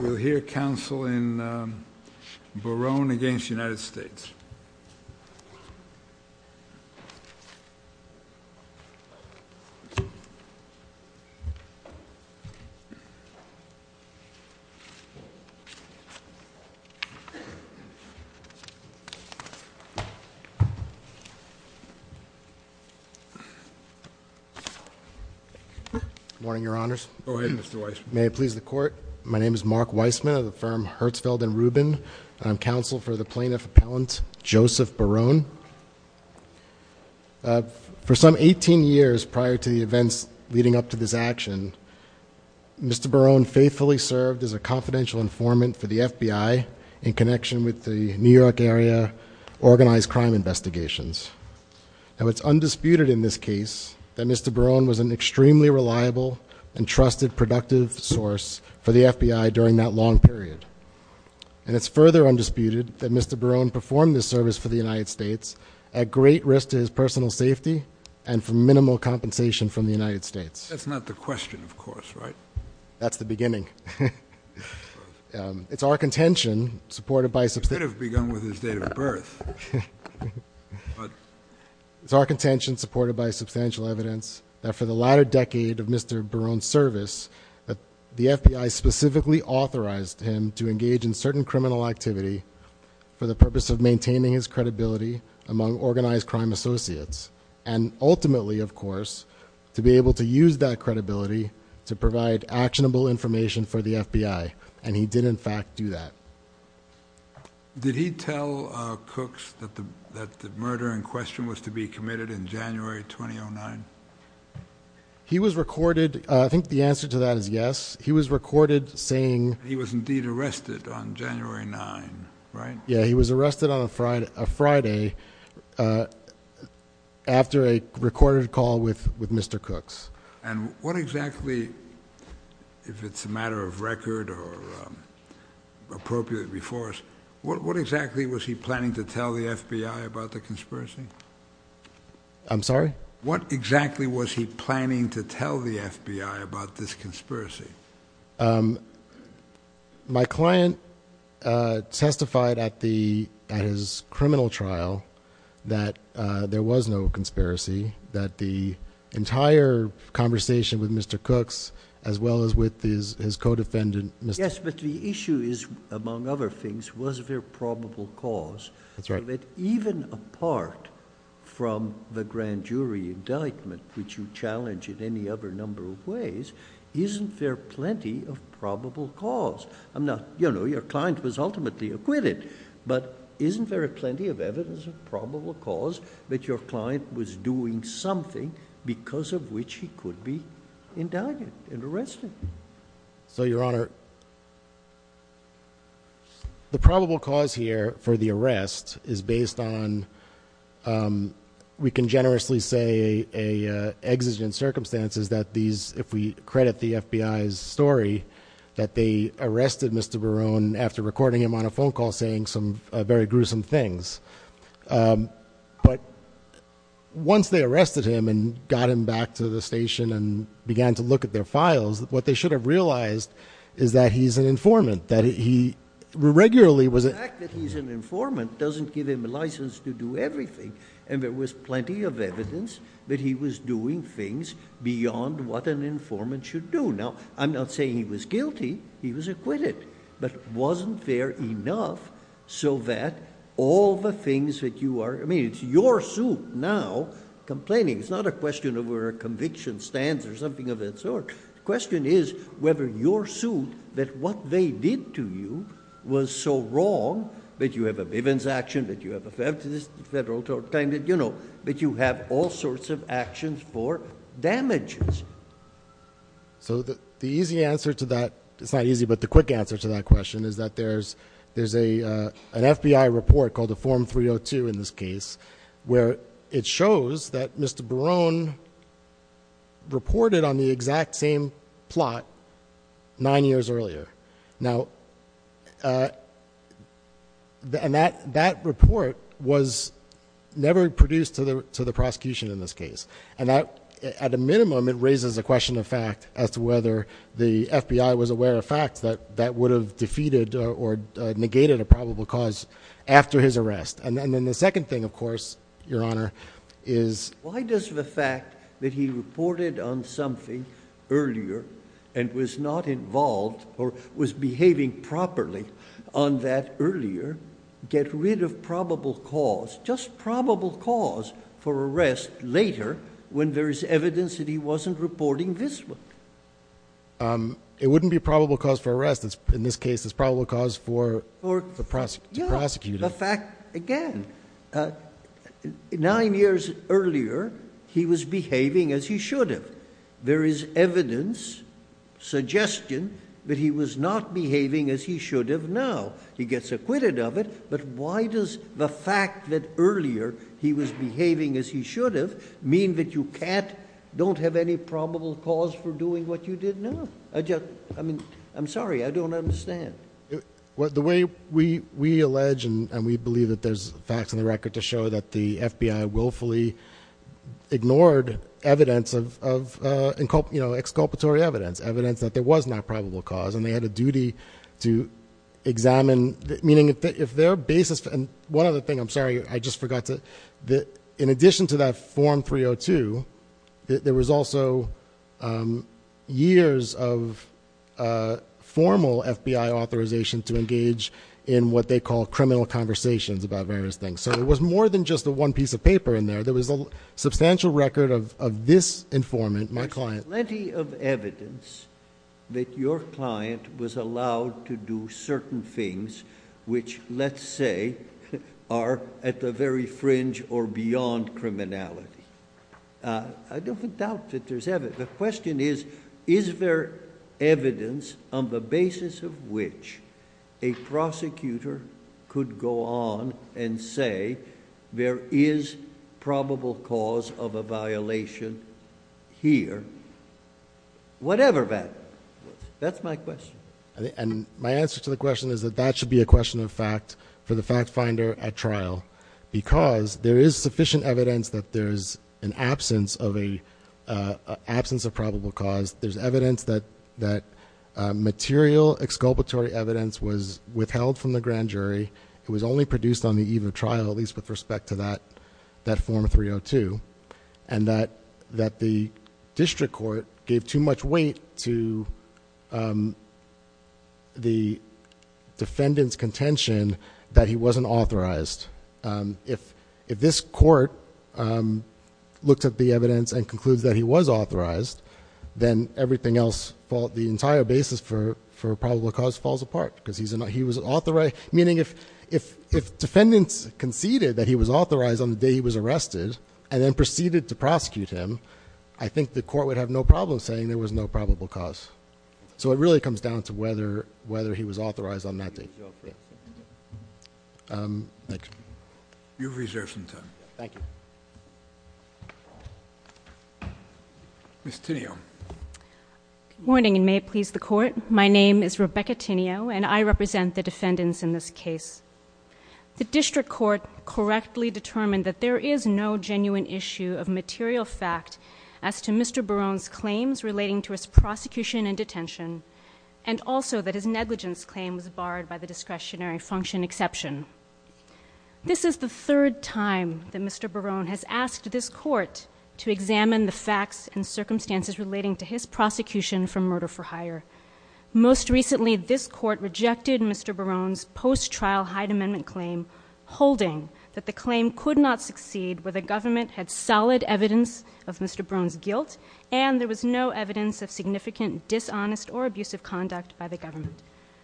We will hear counsel in Barone v. United States. Mr. Weissman. Go ahead, Mr. Weissman. May I please the court? My name is Mark Weissman of the firm Herzfeld & Rubin. I'm counsel for the plaintiff appellant Joseph Barone. For some 18 years prior to the events leading up to this action, Mr. Barone faithfully served as a confidential informant for the FBI in connection with the New York area organized crime investigations. Now, it's undisputed in this case that Mr. Barone was an extremely reliable and trusted productive source for the FBI during that long period. And it's further undisputed that Mr. Barone performed this service for the United States at great risk to his personal safety and for minimal compensation from the United States. That's not the question, of course, right? That's the beginning. It's our contention, supported by a substantial… He could have begun with his date of birth. It's our contention, supported by substantial evidence, that for the latter decade of Mr. Barone's service, the FBI specifically authorized him to engage in certain criminal activity for the purpose of maintaining his credibility among organized crime associates and ultimately, of course, to be able to use that credibility to provide actionable information for the FBI. And he did, in fact, do that. Did he tell Cooks that the murder in question was to be committed in January 2009? He was recorded… I think the answer to that is yes. He was recorded saying… He was indeed arrested on January 9, right? Yeah, he was arrested on a Friday after a recorded call with Mr. Cooks. And what exactly, if it's a matter of record or appropriate before us, what exactly was he planning to tell the FBI about the conspiracy? I'm sorry? What exactly was he planning to tell the FBI about this conspiracy? My client testified at his criminal trial that there was no conspiracy, that the entire conversation with Mr. Cooks as well as with his co-defendant… Yes, but the issue is, among other things, was there probable cause? That's right. But even apart from the grand jury indictment, which you challenged in any other number of ways, isn't there plenty of probable cause? I'm not… You know, your client was ultimately acquitted, but isn't there plenty of evidence of probable cause that your client was doing something because of which he could be indicted and arrested? So, Your Honor, the probable cause here for the arrest is based on, we can generously say, exigent circumstances that these, if we credit the FBI's story, that they arrested Mr. Barone after recording him on a phone call saying some very gruesome things. But once they arrested him and got him back to the station and began to look at their files, what they should have realized is that he's an informant, that he regularly was… The fact that he's an informant doesn't give him a license to do everything, and there was plenty of evidence that he was doing things beyond what an informant should do. Now, I'm not saying he was guilty. He was acquitted. But wasn't there enough so that all the things that you are… I mean, it's your suit now complaining. It's not a question of where a conviction stands or something of that sort. The question is whether your suit, that what they did to you was so wrong, that you have a Bivens action, that you have a federal… You know, that you have all sorts of actions for damages. So the easy answer to that… It's not easy, but the quick answer to that question is that there's an FBI report called a Form 302 in this case where it shows that Mr. Barone reported on the exact same plot nine years earlier. Now, that report was never produced to the prosecution in this case. And at a minimum, it raises a question of fact as to whether the FBI was aware of facts that would have defeated or negated a probable cause after his arrest. And then the second thing, of course, Your Honor, is… Why does the fact that he reported on something earlier and was not involved or was behaving properly on that earlier get rid of probable cause? Just probable cause for arrest later when there is evidence that he wasn't reporting this one. It wouldn't be probable cause for arrest. In this case, it's probable cause for… For… To prosecute him. The fact, again, nine years earlier, he was behaving as he should have. There is evidence, suggestion, that he was not behaving as he should have now. He gets acquitted of it, but why does the fact that earlier he was behaving as he should have mean that you can't, don't have any probable cause for doing what you did now? I just, I mean, I'm sorry, I don't understand. The way we allege and we believe that there's facts in the record to show that the FBI willfully ignored evidence of, you know, exculpatory evidence, evidence that there was no probable cause and they had a duty to examine, meaning if their basis… One other thing, I'm sorry, I just forgot to… In addition to that Form 302, there was also years of formal FBI authorization to engage in what they call criminal conversations about various things. So there was more than just the one piece of paper in there. There was a substantial record of this informant, my client. Plenty of evidence that your client was allowed to do certain things which, let's say, are at the very fringe or beyond criminality. I don't doubt that there's evidence. The question is, is there evidence on the basis of which a prosecutor could go on and say there is probable cause of a violation here, whatever that is. That's my question. And my answer to the question is that that should be a question of fact for the fact finder at trial because there is sufficient evidence that there's an absence of probable cause. There's evidence that material exculpatory evidence was withheld from the grand jury. It was only produced on the eve of trial, at least with respect to that Form 302, and that the district court gave too much weight to the defendant's contention that he wasn't authorized. If this court looked at the evidence and concludes that he was authorized, then everything else, the entire basis for probable cause falls apart because he was authorized. Meaning if defendants conceded that he was authorized on the day he was arrested and then proceeded to prosecute him, I think the court would have no problem saying there was no probable cause. So it really comes down to whether he was authorized on that day. Thank you. You have reserved some time. Thank you. Ms. Tinio. Good morning, and may it please the Court. My name is Rebecca Tinio, and I represent the defendants in this case. The district court correctly determined that there is no genuine issue of material fact as to Mr. Barone's claims relating to his prosecution and detention, and also that his negligence claim was barred by the discretionary function exception. This is the third time that Mr. Barone has asked this court to examine the facts and circumstances relating to his prosecution from murder for hire. Most recently, this court rejected Mr. Barone's post-trial Hyde Amendment claim, holding that the claim could not succeed where the government had solid evidence of Mr. Barone's guilt and there was no evidence of significant dishonest or abusive conduct by the government.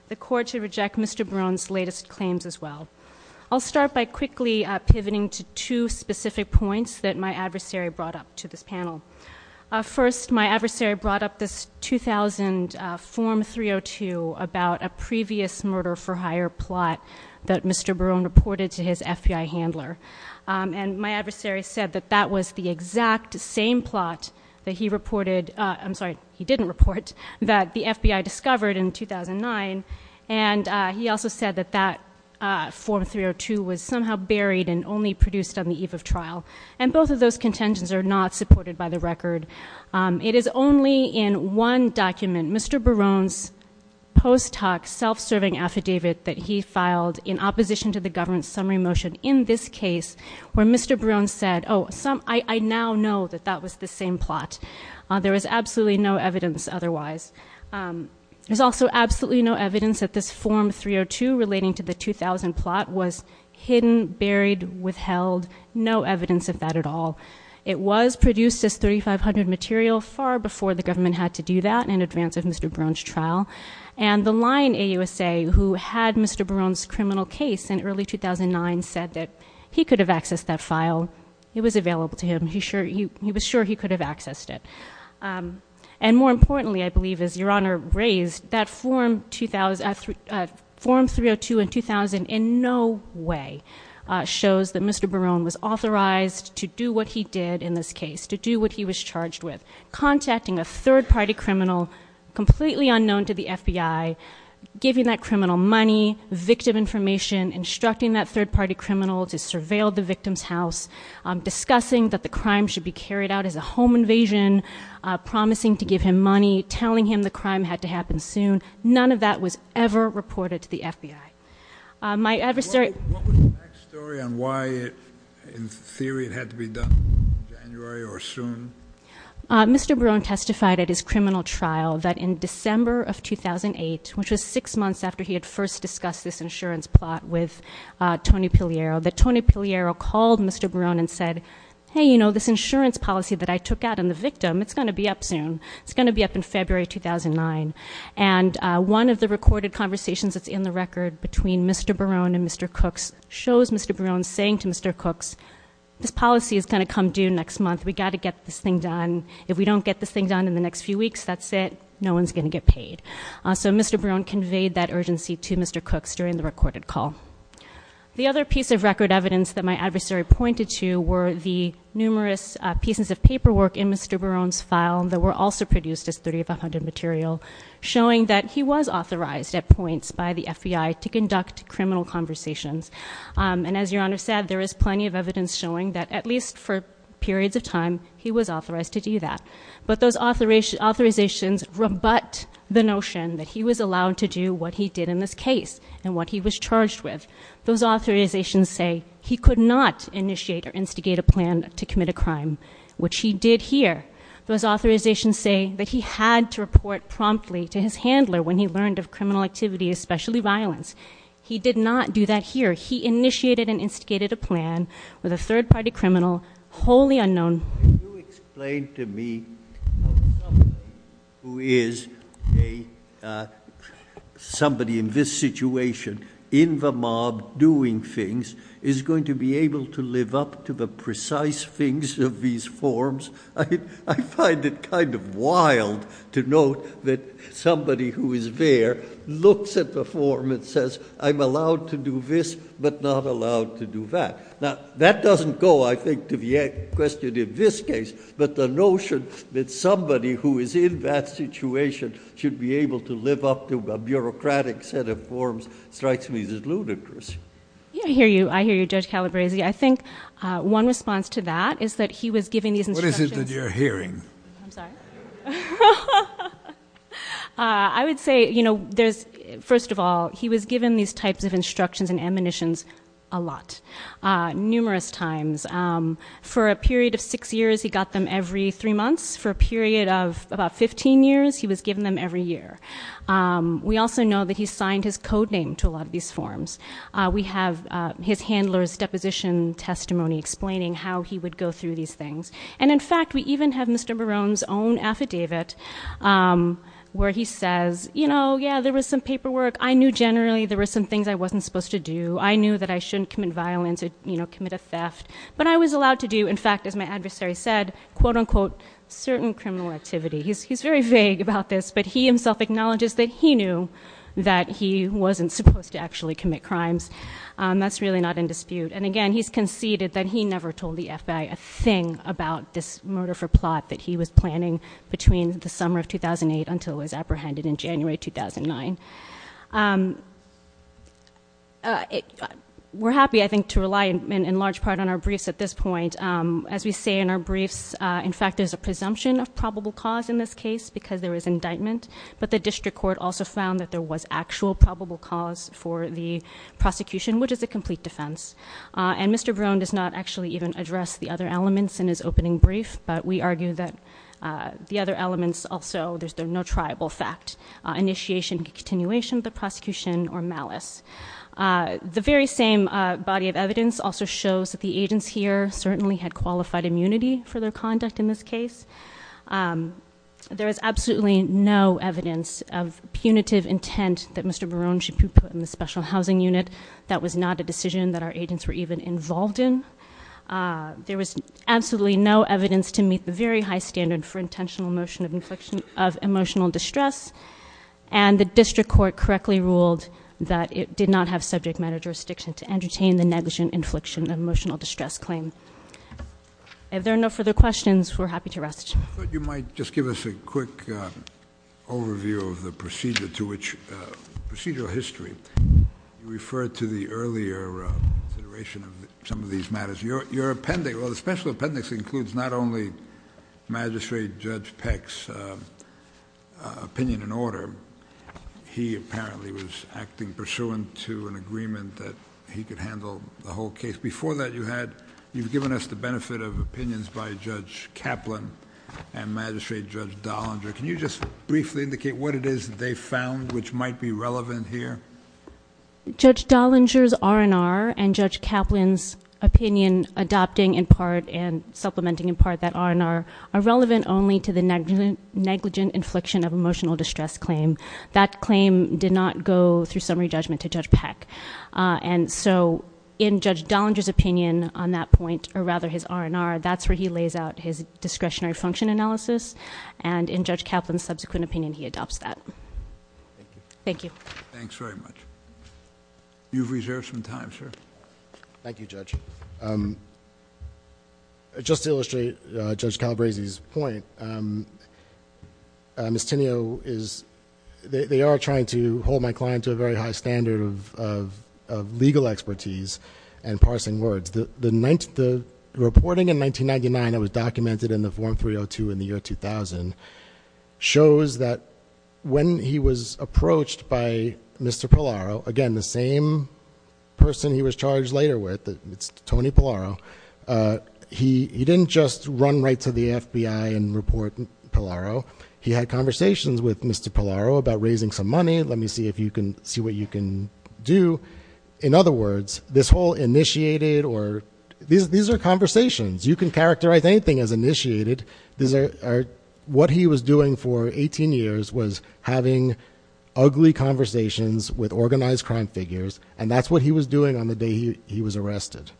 The court should reject Mr. Barone's latest claims as well. I'll start by quickly pivoting to two specific points that my adversary brought up to this panel. First, my adversary brought up this 2000 Form 302 about a previous murder for hire plot that Mr. Barone reported to his FBI handler, and my adversary said that that was the exact same plot that he reported, I'm sorry, he didn't report, that the FBI discovered in 2009, and he also said that that Form 302 was somehow buried and only produced on the eve of trial. And both of those contentions are not supported by the record. It is only in one document, Mr. Barone's post hoc self-serving affidavit, that he filed in opposition to the government's summary motion in this case, where Mr. Barone said, oh, I now know that that was the same plot. There was absolutely no evidence otherwise. There's also absolutely no evidence that this Form 302 relating to the 2000 plot was hidden, buried, withheld, no evidence of that at all. It was produced as 3500 material far before the government had to do that in advance of Mr. Barone's trial, and the lying AUSA who had Mr. Barone's criminal case in early 2009 said that he could have accessed that file. It was available to him. He was sure he could have accessed it. And more importantly, I believe, as Your Honor raised, that Form 302 in 2000 in no way shows that Mr. Barone was authorized to do what he did in this case, to do what he was charged with, contacting a third-party criminal completely unknown to the FBI, giving that criminal money, victim information, instructing that third-party criminal to surveil the victim's house, discussing that the crime should be carried out as a home invasion, promising to give him money, telling him the crime had to happen soon. None of that was ever reported to the FBI. My adversary- What was the back story on why, in theory, it had to be done in January or soon? Mr. Barone testified at his criminal trial that in December of 2008, which was six months after he had first discussed this insurance plot with Tony Piliero, that Tony Piliero called Mr. Barone and said, hey, you know, this insurance policy that I took out on the victim, it's going to be up soon. It's going to be up in February 2009. And one of the recorded conversations that's in the record between Mr. Barone and Mr. Cooks shows Mr. Barone saying to Mr. Cooks, this policy is going to come due next month. We've got to get this thing done. If we don't get this thing done in the next few weeks, that's it. No one's going to get paid. So Mr. Barone conveyed that urgency to Mr. Cooks during the recorded call. The other piece of record evidence that my adversary pointed to were the numerous pieces of paperwork in Mr. Barone's file that were also produced as 3500 material, showing that he was authorized at points by the FBI to conduct criminal conversations. And as Your Honor said, there is plenty of evidence showing that, at least for periods of time, he was authorized to do that. But those authorizations rebut the notion that he was allowed to do what he did in this case and what he was charged with. Those authorizations say he could not initiate or instigate a plan to commit a crime, which he did here. Those authorizations say that he had to report promptly to his handler when he learned of criminal activity, especially violence. He did not do that here. He initiated and instigated a plan with a third-party criminal, wholly unknown. Can you explain to me how somebody who is somebody in this situation, in the mob, doing things, is going to be able to live up to the precise things of these forms? I find it kind of wild to note that somebody who is there looks at the form and says, I'm allowed to do this but not allowed to do that. Now, that doesn't go, I think, to the question in this case. But the notion that somebody who is in that situation should be able to live up to a bureaucratic set of forms strikes me as ludicrous. I hear you, Judge Calabresi. I think one response to that is that he was given these instructions. What is it that you're hearing? I'm sorry? I would say, first of all, he was given these types of instructions and ammunitions a lot, numerous times. For a period of six years, he got them every three months. For a period of about 15 years, he was given them every year. We also know that he signed his code name to a lot of these forms. We have his handler's deposition testimony explaining how he would go through these things. And, in fact, we even have Mr. Barone's own affidavit where he says, you know, yeah, there was some paperwork. I knew generally there were some things I wasn't supposed to do. I knew that I shouldn't commit violence or, you know, commit a theft. But I was allowed to do, in fact, as my adversary said, quote, unquote, certain criminal activity. He's very vague about this, but he himself acknowledges that he knew that he wasn't supposed to actually commit crimes. That's really not in dispute. And, again, he's conceded that he never told the FBI a thing about this murder for plot that he was planning between the summer of 2008 until it was apprehended in January 2009. We're happy, I think, to rely in large part on our briefs at this point. As we say in our briefs, in fact, there's a presumption of probable cause in this case because there was indictment. But the district court also found that there was actual probable cause for the prosecution, which is a complete defense. And Mr. Barone does not actually even address the other elements in his opening brief. But we argue that the other elements also, there's no triable fact, initiation, continuation of the prosecution, or malice. The very same body of evidence also shows that the agents here certainly had qualified immunity for their conduct in this case. There is absolutely no evidence of punitive intent that Mr. Barone should be put in the special housing unit. That was not a decision that our agents were even involved in. There was absolutely no evidence to meet the very high standard for intentional motion of emotional distress. And the district court correctly ruled that it did not have subject matter jurisdiction to entertain the negligent infliction of emotional distress claim. If there are no further questions, we're happy to rest. I thought you might just give us a quick overview of the procedural history. You referred to the earlier consideration of some of these matters. Your appendix, well, the special appendix includes not only Magistrate Judge Peck's opinion and order. He apparently was acting pursuant to an agreement that he could handle the whole case. Before that, you've given us the benefit of opinions by Judge Kaplan and Magistrate Judge Dollinger. Can you just briefly indicate what it is that they found which might be relevant here? Judge Dollinger's R&R and Judge Kaplan's opinion adopting in part and supplementing in part that R&R are relevant only to the negligent infliction of emotional distress claim. That claim did not go through summary judgment to Judge Peck. And so in Judge Dollinger's opinion on that point, or rather his R&R, that's where he lays out his discretionary function analysis. And in Judge Kaplan's subsequent opinion, he adopts that. Thank you. Thanks very much. You've reserved some time, sir. Thank you, Judge. Just to illustrate Judge Calabresi's point, they are trying to hold my client to a very high standard of legal expertise and parsing words. The reporting in 1999 that was documented in the form 302 in the year 2000 shows that when he was approached by Mr. Pallaro, again, the same person he was charged later with, Tony Pallaro, he didn't just run right to the FBI and report Pallaro. He had conversations with Mr. Pallaro about raising some money. Let me see if you can see what you can do. In other words, this whole initiated or these are conversations. You can characterize anything as initiated. What he was doing for 18 years was having ugly conversations with organized crime figures. And that's what he was doing on the day he was arrested.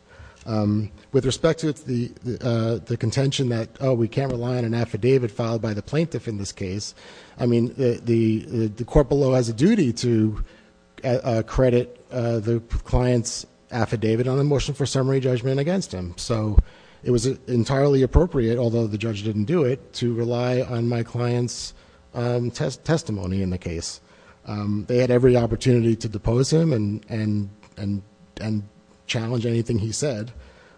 With respect to the contention that, oh, we can't rely on an affidavit filed by the plaintiff in this case, I mean, the court below has a duty to credit the client's affidavit on the motion for summary judgment against him. So it was entirely appropriate, although the judge didn't do it, to rely on my client's testimony in the case. They had every opportunity to depose him and challenge anything he said.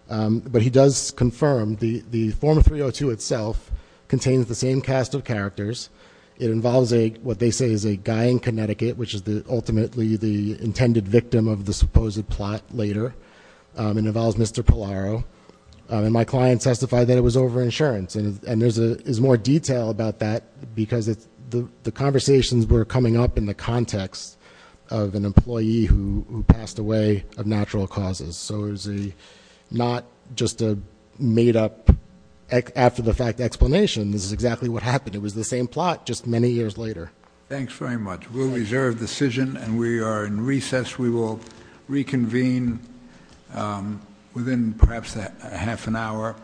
But he does confirm the form 302 itself contains the same cast of characters. It involves what they say is a guy in Connecticut, which is ultimately the intended victim of the supposed plot later. It involves Mr. Pallaro. And my client testified that it was over insurance. And there's more detail about that because the conversations were coming up in the context of an employee who passed away of natural causes. So it was not just a made-up, after-the-fact explanation. This is exactly what happened. It was the same plot, just many years later. Thanks very much. We will reconvene within perhaps half an hour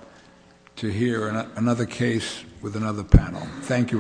to hear another case with another panel. Thank you very much.